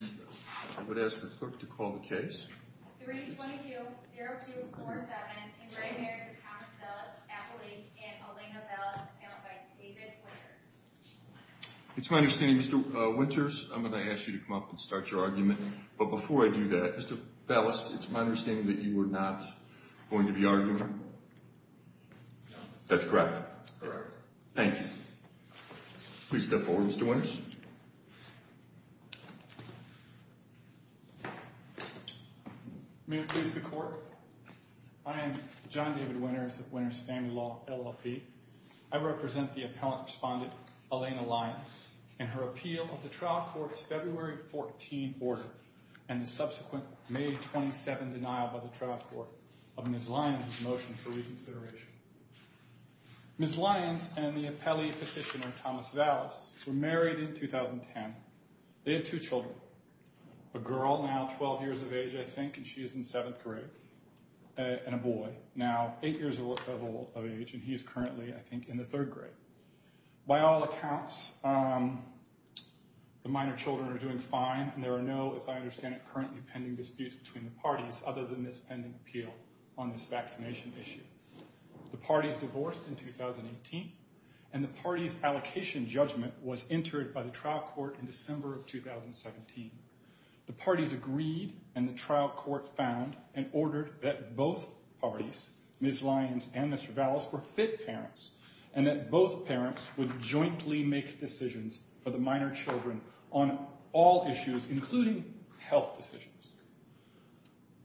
I would ask the clerk to call the case It's my understanding Mr. Winters I'm gonna ask you to come up and start your argument but before I do that Mr. Valus it's my understanding that you were not going to be arguing that's correct? Correct. Thank you. Please step forward Mr. Winters. May it please the court. I am John David Winters of Winters Family Law LLP. I represent the appellant respondent Elena Lyons and her appeal of the trial court's February 14 order and the subsequent May 27 denial by the trial court of Ms. Lyons' motion for Ms. Lyons and the appellee petitioner Thomas Valus were married in 2010 they had two children a girl now 12 years of age I think and she is in seventh grade and a boy now eight years of age and he is currently I think in the third grade by all accounts the minor children are doing fine and there are no as I understand it currently pending disputes between the parties other than this on this vaccination issue the parties divorced in 2018 and the party's allocation judgment was entered by the trial court in December of 2017 the parties agreed and the trial court found and ordered that both parties Ms. Lyons and Mr. Valus were fit parents and that both parents would jointly make decisions for the minor children on all issues including health decisions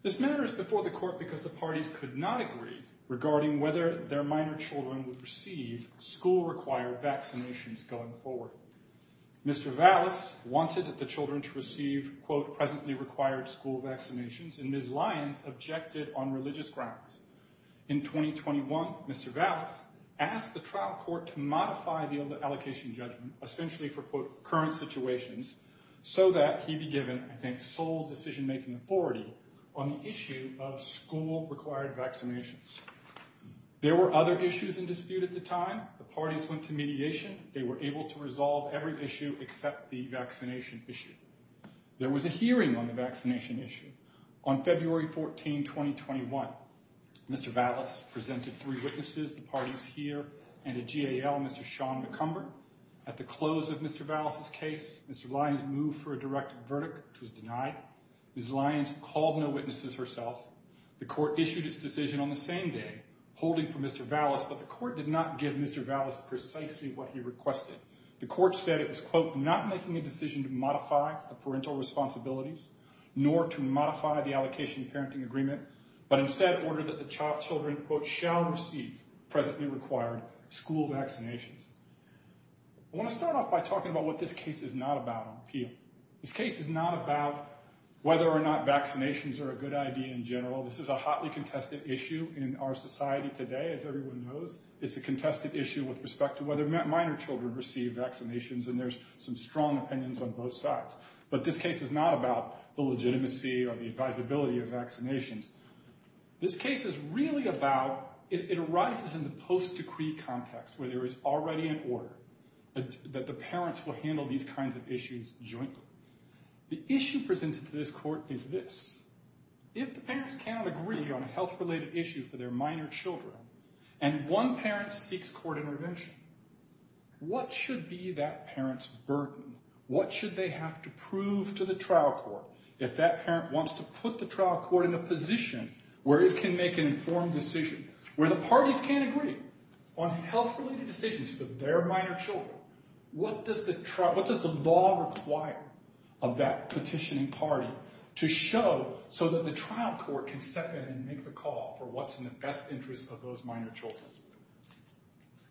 this matters before the court because the parties could not agree regarding whether their minor children would receive school-required vaccinations going forward Mr. Valus wanted the children to receive quote presently required school vaccinations and Ms. Lyons objected on religious grounds in 2021 Mr. Valus asked the trial court to modify the allocation judgment essentially for quote current situations so that he be given I think sole decision-making authority on the issue of school-required vaccinations there were other issues in dispute at the time the parties went to mediation they were able to resolve every issue except the vaccination issue there was a hearing on the vaccination issue on February 14 2021 Mr. Valus presented three witnesses the parties here and a GAL Mr. Sean McCumber at the close of Mr. Valus's Ms. Lyons called no witnesses herself the court issued its decision on the same day holding for Mr. Valus but the court did not give Mr. Valus precisely what he requested the court said it was quote not making a decision to modify the parental responsibilities nor to modify the allocation parenting agreement but instead ordered that the child children quote shall receive presently required school vaccinations I want to start off by talking about what this case is not about appeal this case is not about whether or not vaccinations are a good idea in general this is a hotly contested issue in our society today as everyone knows it's a contested issue with respect to whether minor children receive vaccinations and there's some strong opinions on both sides but this case is not about the legitimacy or the advisability of vaccinations this case is really about it arises in the post decree context where there is already an that the parents will handle these kinds of issues jointly the issue presented to this court is this if the parents cannot agree on a health-related issue for their minor children and one parent seeks court intervention what should be that parents burden what should they have to prove to the trial court if that parent wants to put the trial court in a position where it can make an informed decision where the parties can't agree on health related decisions for their minor children what does the trial what does the law require of that petitioning party to show so that the trial court can step in and make the call for what's in the best interest of those minor children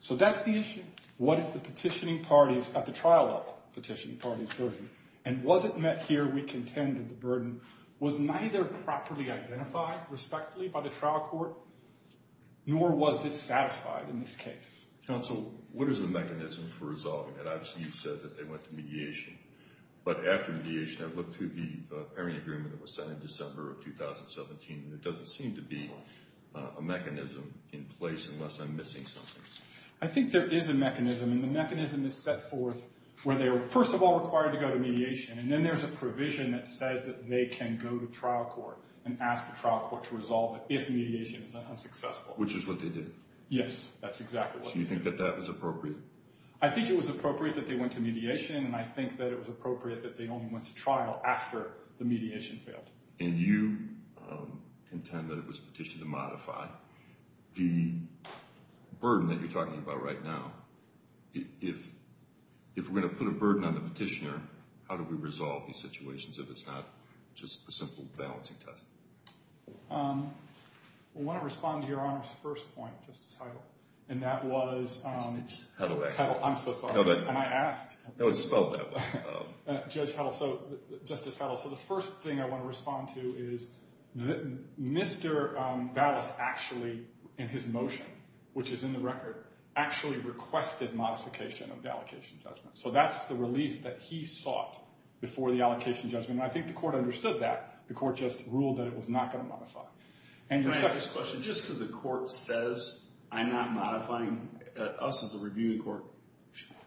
so that's the issue what is the petitioning parties at the trial of petitioning parties and was it met here we contended the burden was neither properly identified respectfully by the trial court nor was it satisfied in this case so what is the mechanism for resolving that I've seen said that they went to mediation but after mediation I've looked through the pairing agreement that was set in December of 2017 there doesn't seem to be a mechanism in place unless I'm missing something I think there is a mechanism and the mechanism is set forth where they were first of all required to go to mediation and then there's a provision that says that they can go to trial court and ask the trial court to resolve it if mediation is unsuccessful which is what they did yes that's exactly you think that that was appropriate I think it was appropriate that they went to mediation and I think that it was appropriate that they only went to trial after the mediation failed and you intend that it was petition to modify the burden that you're talking about right now if if we're going to put a burden on the petitioner how do we respond to your honor's first point and that was so the first thing I want to respond to is that mr. that is actually in his motion which is in the record actually requested modification of the allocation judgment so that's the relief that he sought before the allocation judgment I think the court understood that the court just ruled that it was not going to modify and discussion just because the court says I'm not modifying us as a reviewing court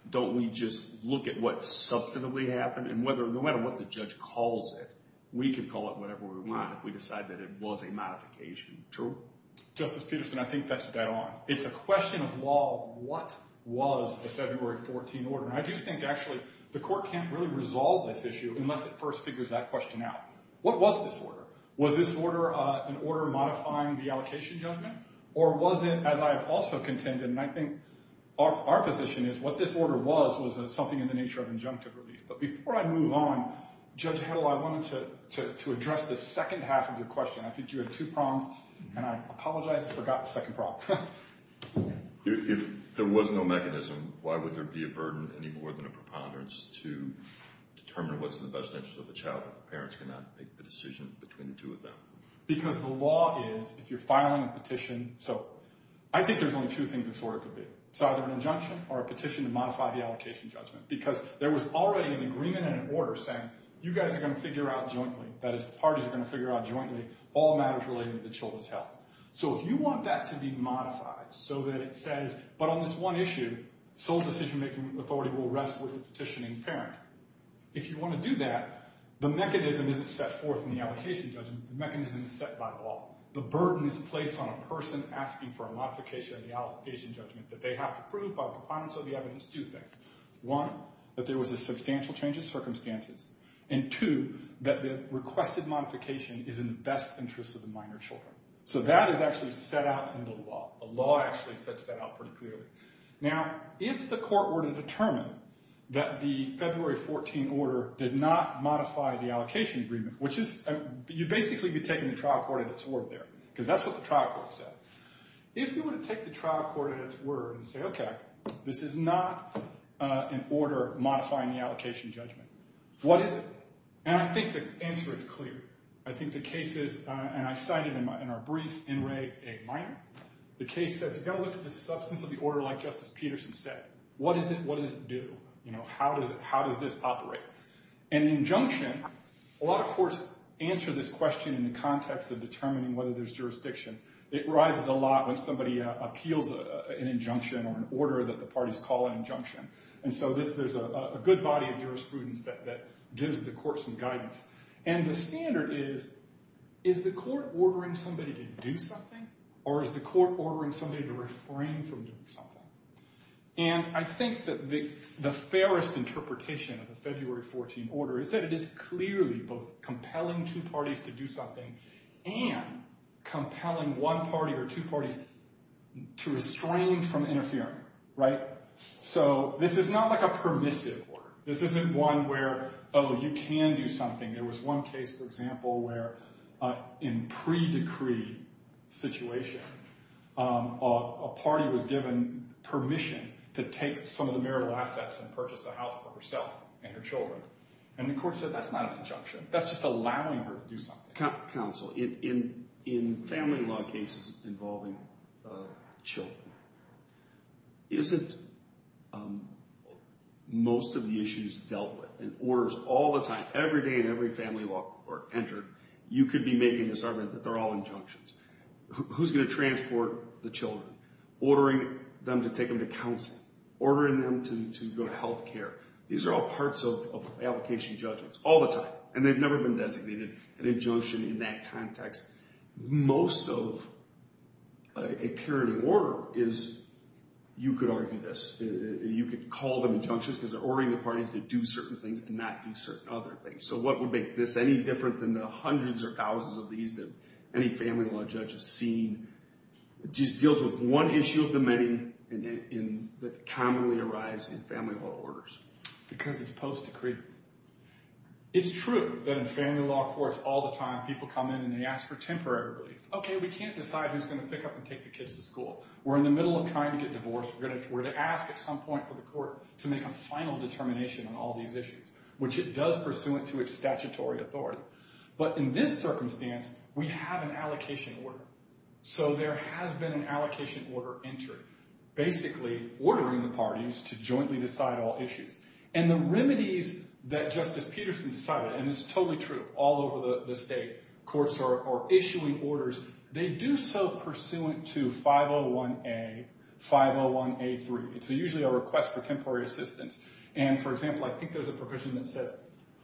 don't we just look at what substantively happened and whether no matter what the judge calls it we can call it whatever we want if we decide that it was a modification true justice Peterson I think that's dead on it's a question of law what was the February 14 order I do think actually the court can't really resolve this issue unless it first figures that question out what was this order was this order an order modifying the allocation judgment or was it as I have also contended and I think our position is what this order was was something in the nature of injunctive relief but before I move on judge how do I wanted to address the second half of your question I think you had two prongs and I apologize forgot the second problem if there was no mechanism why determine what's in the best interest of the child if the parents cannot make the decision between the two of them because the law is if you're filing a petition so I think there's only two things this order could be so either an injunction or a petition to modify the allocation judgment because there was already an agreement and an order saying you guys are going to figure out jointly that is the parties are going to figure out jointly all matters related to children's health so if you want that to be modified so that it says but on this one issue sole decision-making authority will rest with the petitioning parent if you want to do that the mechanism isn't set forth in the allocation judgment mechanism is set by law the burden is placed on a person asking for a modification of the allocation judgment that they have to prove by proponents of the evidence do things one that there was a substantial change of circumstances and two that the requested modification is in the best interest of the minor children so that is actually set out in the law a law actually sets that out pretty clearly now if the court were to determine that the February 14 order did not modify the allocation agreement which is you basically be taking the trial court in its word there because that's what the trial court said if you were to take the trial court at its word and say okay this is not an order modifying the allocation judgment what is it and I think the answer is clear I think the case is and I cited in my in our brief the case says you've got to look at the substance of the order like Justice Peterson said what is it what does it do you know how does it how does this operate an injunction a lot of courts answer this question in the context of determining whether there's jurisdiction it rises a lot when somebody appeals an injunction or an order that the parties call an injunction and so this there's a good body of jurisprudence that gives the courts and guidance and the standard is is the court ordering somebody to do something or is the court ordering somebody to refrain from doing something and I think that the the fairest interpretation of the February 14 order is that it is clearly both compelling two parties to do something and compelling one party or two parties to restrain from interfering right so this is not like a permissive order this isn't one where oh you can do something there was one case for example where in pre decree situation a party was given permission to take some of the marital assets and purchase a house for herself and her children and the court said that's not an injunction that's just allowing her to do something. Counsel in family law cases involving children isn't most of the issues dealt with and orders all the time every day in every family law or entered you could be making a sermon that they're all injunctions who's going to transport the children ordering them to take them to counsel ordering them to go to health care these are all parts of application judgments all the time and they've never been designated an injunction in that context most of a parenting order is you could argue this you could call them injunctions because they're ordering the parties to do certain things and not do certain other things so what would make this any different than the hundreds or thousands of these that any family law judge has seen just deals with one issue of the many in that commonly arise in it's true that in family law courts all the time people come in and they ask for temporary relief okay we can't decide who's going to pick up and take the kids to school we're in the middle of trying to get divorced we're going to ask at some point for the court to make a final determination on all these issues which it does pursuant to its statutory authority but in this circumstance we have an allocation order so there has been an allocation order entered basically ordering the parties to jointly decide all issues and the remedies that Justice Peterson decided and it's totally true all over the state courts are issuing orders they do so pursuant to 501A 501A3 it's usually a request for temporary assistance and for example I think there's a provision that says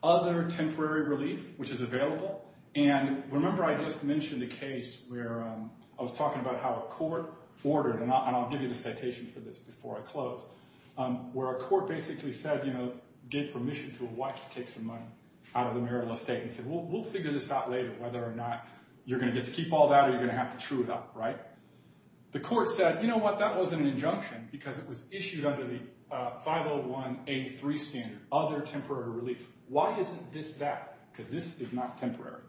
other temporary relief which is available and remember I just mentioned the case where I was talking about how a court ordered and I'll give you the presentation for this before I close where a court basically said you know gave permission to a wife to take some money out of the marital estate and said well we'll figure this out later whether or not you're going to get to keep all that or you're going to have to true it up right the court said you know what that wasn't an injunction because it was issued under the 501A3 standard other temporary relief why isn't this that because this is not temporary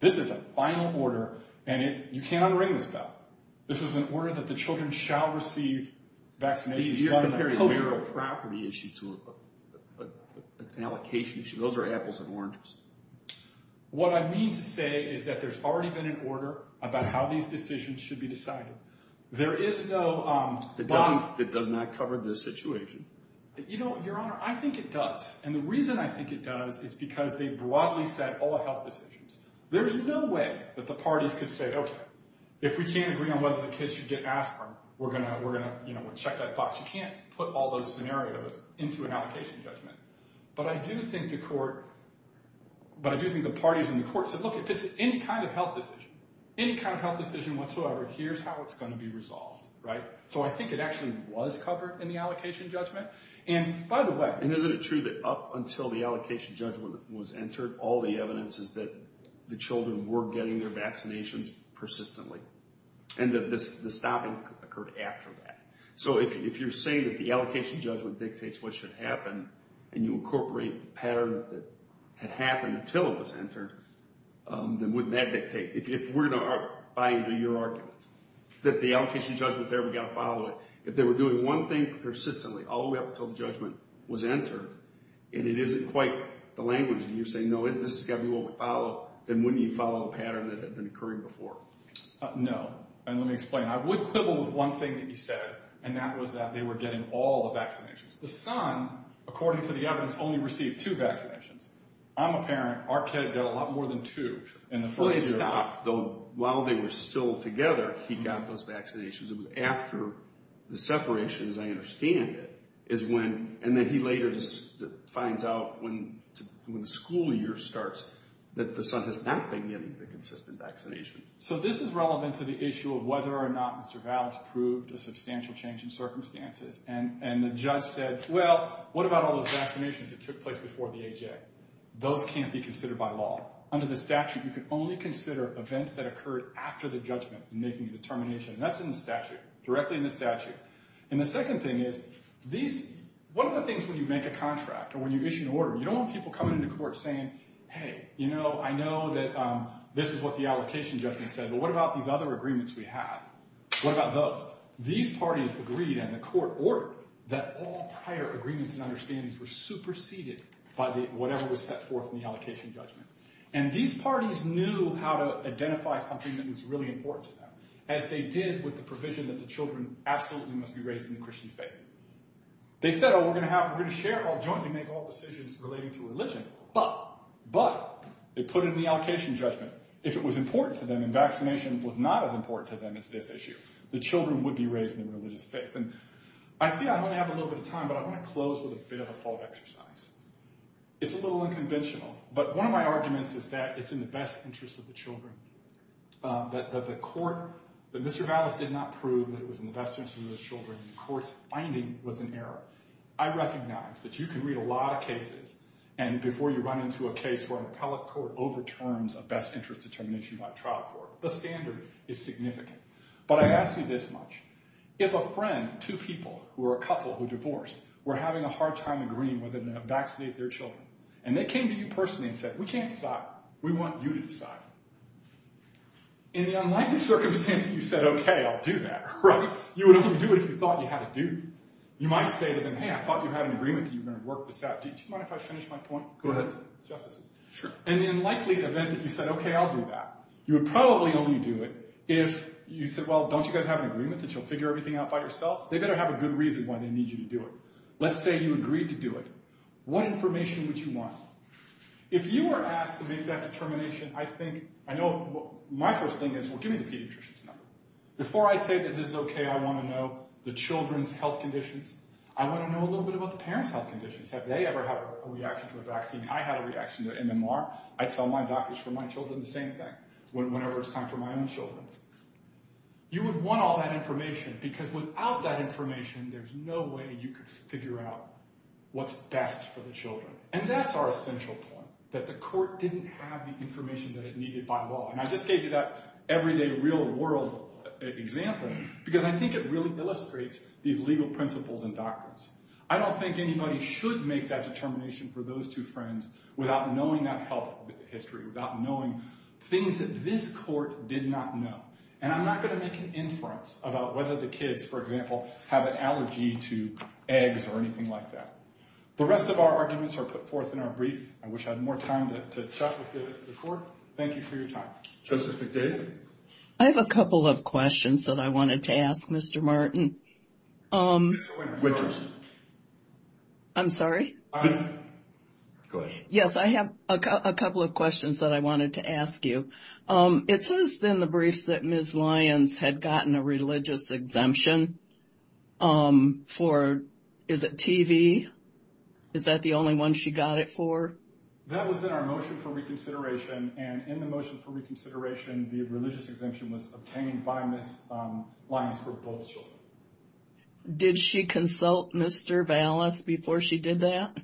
this is a final order and it you can't unring this bell this is an order that the vaccination is not a postal property issue to an allocation issue those are apples and oranges what I mean to say is that there's already been an order about how these decisions should be decided there is no that doesn't that does not cover this situation you know your honor I think it does and the reason I think it does is because they broadly said all health decisions there's no way that the parties could say okay if we can't agree on whether the kids should get aspirin we're gonna we're gonna you know check that box you can't put all those scenarios into an allocation judgment but I do think the court but I do think the parties in the court said look if it's any kind of health decision any kind of health decision whatsoever here's how it's going to be resolved right so I think it actually was covered in the allocation judgment and by the way and isn't it true that up until the allocation judgment was entered all the evidence is that the children were getting their vaccinations persistently and that this is the stopping occurred after that so if you're saying that the allocation judgment dictates what should happen and you incorporate pattern that had happened until it was entered then wouldn't that dictate if we're not buy into your argument that the allocation judgment there we got to follow it if they were doing one thing persistently all the way up until the judgment was entered and it isn't quite the language and you say no this is gonna be what we know and let me explain I would quibble with one thing that he said and that was that they were getting all the vaccinations the son according to the evidence only received two vaccinations I'm a parent our kid got a lot more than two and the first stop though while they were still together he got those vaccinations and after the separation as I understand it is when and then he later just finds out when the school year starts that the son has not been so this is relevant to the issue of whether or not mr. valves proved a substantial change in circumstances and and the judge said well what about all those vaccinations that took place before the AJ those can't be considered by law under the statute you can only consider events that occurred after the judgment making a determination that's in the statute directly in the statute and the second thing is these what are the things when you make a contract or when you issue an order you don't want people coming into court saying hey you know I know that this is what the allocation judgment said but what about these other agreements we have what about those these parties agreed and the court ordered that all prior agreements and understandings were superseded by the whatever was set forth in the allocation judgment and these parties knew how to identify something that was really important to them as they did with the provision that the children absolutely must be raised in the Christian faith they said oh we're gonna have we're gonna share all jointly make religion but but they put it in the allocation judgment if it was important to them and vaccination was not as important to them as this issue the children would be raised in religious faith and I see I don't have a little bit of time but I want to close with a bit of a thought exercise it's a little unconventional but one of my arguments is that it's in the best interest of the children that the court that mr. valance did not prove that it was in the best interest of the children the courts finding was an error I recognize that you can read a lot of cases and before you run into a case where an appellate court overturns a best interest determination by trial court the standard is significant but I ask you this much if a friend two people who are a couple who divorced we're having a hard time agreeing with them to vaccinate their children and they came to you personally and said we can't stop we want you to decide in the unlikely circumstance that you said okay I'll do that right you would only do it if you thought you had to do you might say to have an agreement that you're going to work this out did you mind if I finish my point go ahead justice sure and in likely event that you said okay I'll do that you would probably only do it if you said well don't you guys have an agreement that you'll figure everything out by yourself they better have a good reason why they need you to do it let's say you agreed to do it what information would you want if you were asked to make that determination I think I know my first thing is well give me the pediatricians number before I say this is okay I want to know the children's health conditions I want to know a parent's health conditions have they ever had a reaction to a vaccine I had a reaction to MMR I tell my doctors for my children the same thing when whenever it's time for my own children you would want all that information because without that information there's no way you could figure out what's best for the children and that's our essential point that the court didn't have the information that it needed by law and I just gave you that everyday real-world example because I think it really illustrates these legal principles and I don't think anybody should make that determination for those two friends without knowing that health history without knowing things that this court did not know and I'm not going to make an inference about whether the kids for example have an allergy to eggs or anything like that the rest of our arguments are put forth in our brief I wish I had more time to thank you for your time just a good I have a couple of questions that I wanted to ask mr. Martin I'm sorry yes I have a couple of questions that I wanted to ask you it says then the briefs that ms. Lyons had gotten a religious exemption for is it TV is that the only one she got it for did she consult mr. Valis before she did that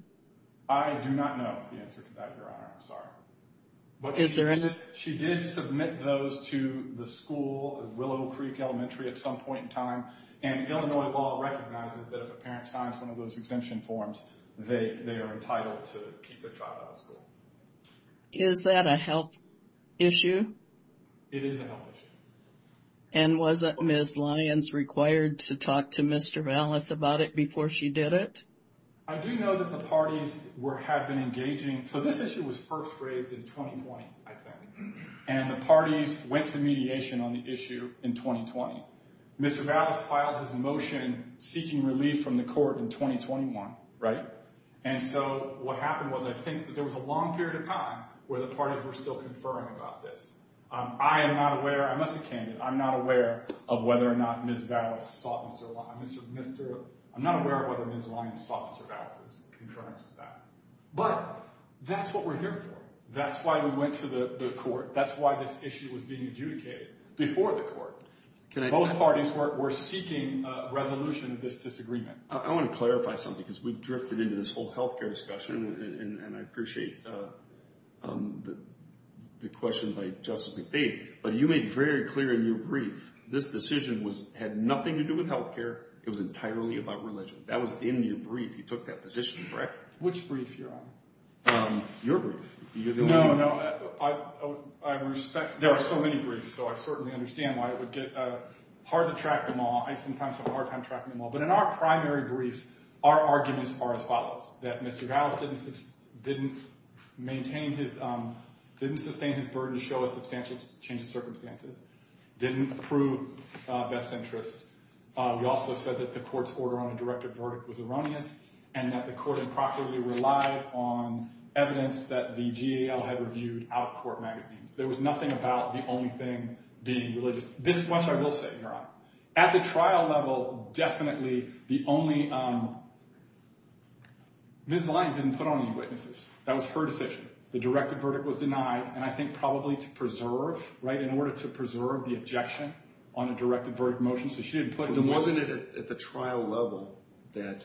but is there any she did submit those to the school Willow Creek Elementary at some point in time and Illinois law recognizes that if a parent signs one of those exemption forms they they are entitled to keep the child out of school is that a health issue and was that miss Lyons required to talk to mr. Valis about it before she did it I do know that the parties were have been engaging so this issue was first raised in 2020 and the parties went to mediation on the issue in 2020 mr. Valis filed his motion seeking relief from the court in 2021 right and so what happened was I think there was a long period of time where the parties were still conferring about this I am not aware I must be candid I'm not aware of whether or not miss Valis thought mr. Lyons mr. mr. I'm not aware of whether ms. Lyons thought mr. Valis was in conference with that but that's what we're here for that's why we went to the court that's why this issue was being adjudicated before the court both parties were seeking resolution of this disagreement I want to clarify something because we drifted into this whole health care discussion and I appreciate the question by Justice McVeigh but you made very clear in your brief this decision was had nothing to do with health care it was entirely about religion that was in your brief you took that position correct which brief you're on your there are so many briefs so I certainly understand why it would get hard to track them all I sometimes have a hard time tracking them all but in our primary brief our arguments are as follows that mr. Valis didn't maintain his didn't sustain his burden to show a substantial change of circumstances didn't approve best interests we also said that the court's order on a directive verdict was erroneous and that the court improperly relied on evidence that the GAO had reviewed out-of-court magazines there was nothing about the only thing being religious this is what I will say your honor at the trial level definitely the only this line didn't put on any witnesses that was her decision the directive verdict was denied and I think probably to preserve right in order to preserve the objection on a directive verdict motion so she didn't put the woman at the trial level that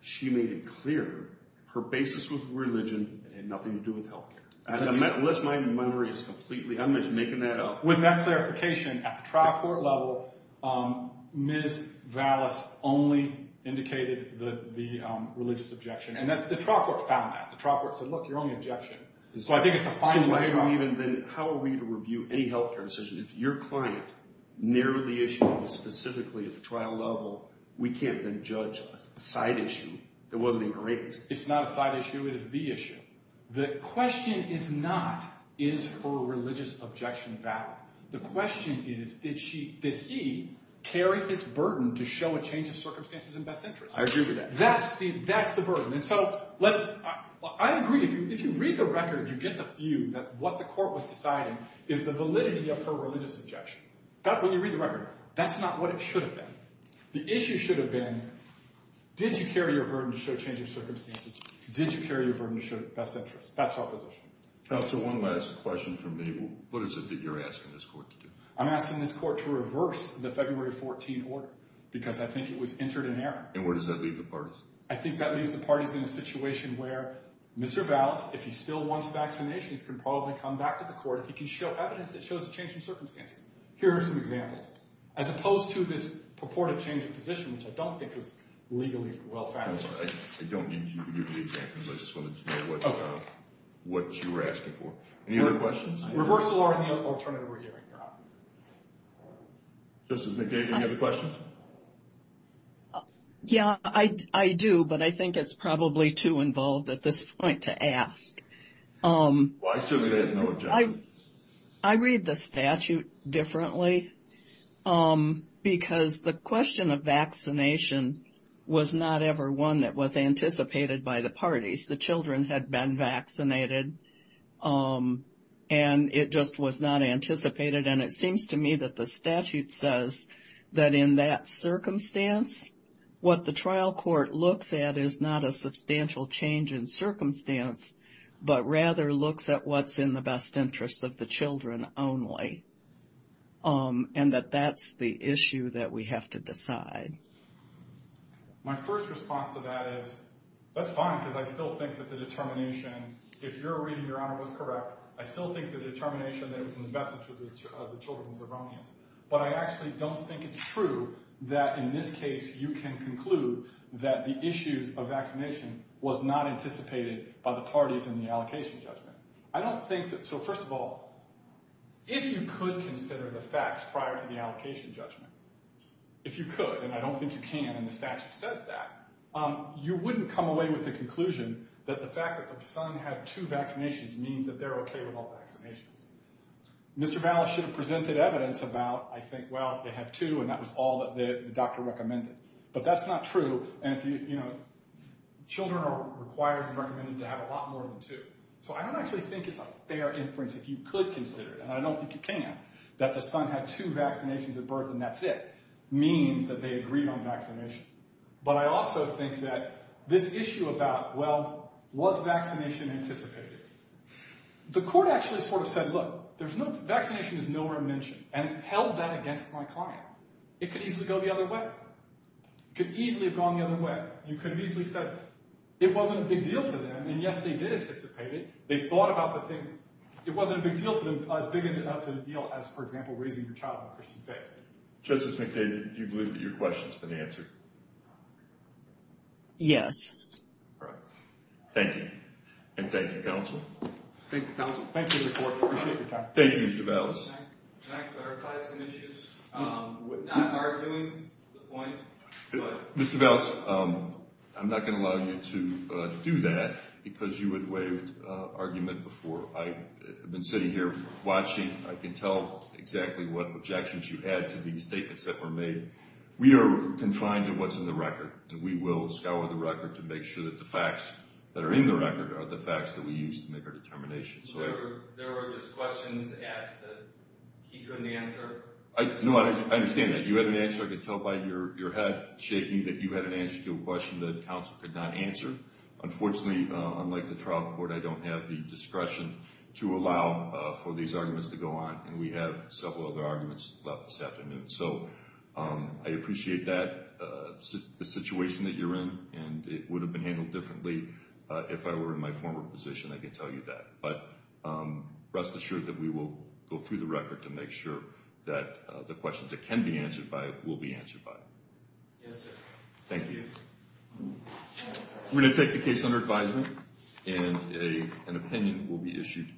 she made it clear her basis with religion and nothing to do with health care unless my memory is completely I'm making that up clarification at the trial court level miss Valis only indicated the religious objection and that the trial court found that the trial court said look you're only objection so I think it's a fine line even then how are we to review any health care decision if your client narrowed the issue specifically at the trial level we can't then judge us a side issue that wasn't even raised it's not a side issue it is the issue the question is not is for religious objection about the question is did she did he carry his burden to show a change of circumstances and best interest I agree with that that's the that's the burden and so let's I agree if you read the record you get the view that what the court was deciding is the validity of her religious objection that when you read the record that's not what it should have been the issue should have been did you carry your burden to show change of circumstances did you carry your burden to show the best interest that's opposition so one last question for me what is it that you're asking this court to do I'm asking this court to reverse the February 14th order because I think it was entered in there and where does that leave the party I think that leaves the parties in a situation where mr. Valis if he still wants vaccinations can probably come back to the court if he can show evidence that shows a change in circumstances here are some examples as opposed to this purported change of position which I don't think it was legally well I don't need you to do the reversal or any other question yeah I I do but I think it's probably too involved at this point to ask I read the statute differently because the question of vaccination was not ever one that was anticipated by the parties the children had been vaccinated and it just was not anticipated and it seems to me that the statute says that in that circumstance what the trial court looks at is not a substantial change in circumstance but rather looks at what's in the best interest of the children only and that that's the issue that we have to decide my first response to that is that's fine because I still think that the determination if you're reading your honor was correct I still think the determination that was invested to the children's of Romney's but I actually don't think it's true that in this case you can conclude that the issues of vaccination was not anticipated by the parties in the allocation judgment I don't think that so first of all if you could consider the facts prior to the you wouldn't come away with the conclusion that the fact that the Sun had two vaccinations means that they're okay with all vaccinations mr. Bala should have presented evidence about I think well they had to and that was all that the doctor recommended but that's not true and if you you know children are required and recommended to have a lot more than two so I don't actually think it's a fair inference if you could consider it and I don't think you can that the Sun had two vaccinations at birth and that's it means that they agreed on vaccination but I also think that this issue about well was vaccination anticipated the court actually sort of said look there's no vaccination is nowhere mentioned and held that against my client it could easily go the other way could easily have gone the other way you could have easily said it wasn't a big deal to them and yes they did anticipate it they thought about the thing it wasn't a big deal to them as big enough to deal as for example raising your child just as mcdade you believe that your questions been answered yes thank you and thank you counsel thank you thank you mr. Bell's mr. bells I'm not going to allow you to do that because you would waive argument before I have been sitting here watching I can tell exactly what objections you had to these statements that were made we are confined to what's in the record and we will scour the record to make sure that the facts that are in the record are the facts that we used to make our determination so I know I understand that you had an answer I could tell by your head shaking that you had an answer to a question that council could not answer unfortunately unlike the trial court I don't have the discretion to have several other arguments left this afternoon so I appreciate that the situation that you're in and it would have been handled differently if I were in my former position I can tell you that but rest assured that we will go through the record to make sure that the questions that can be answered by it will be answered by thank you we're going to take the case under advisement and an opinion will be issued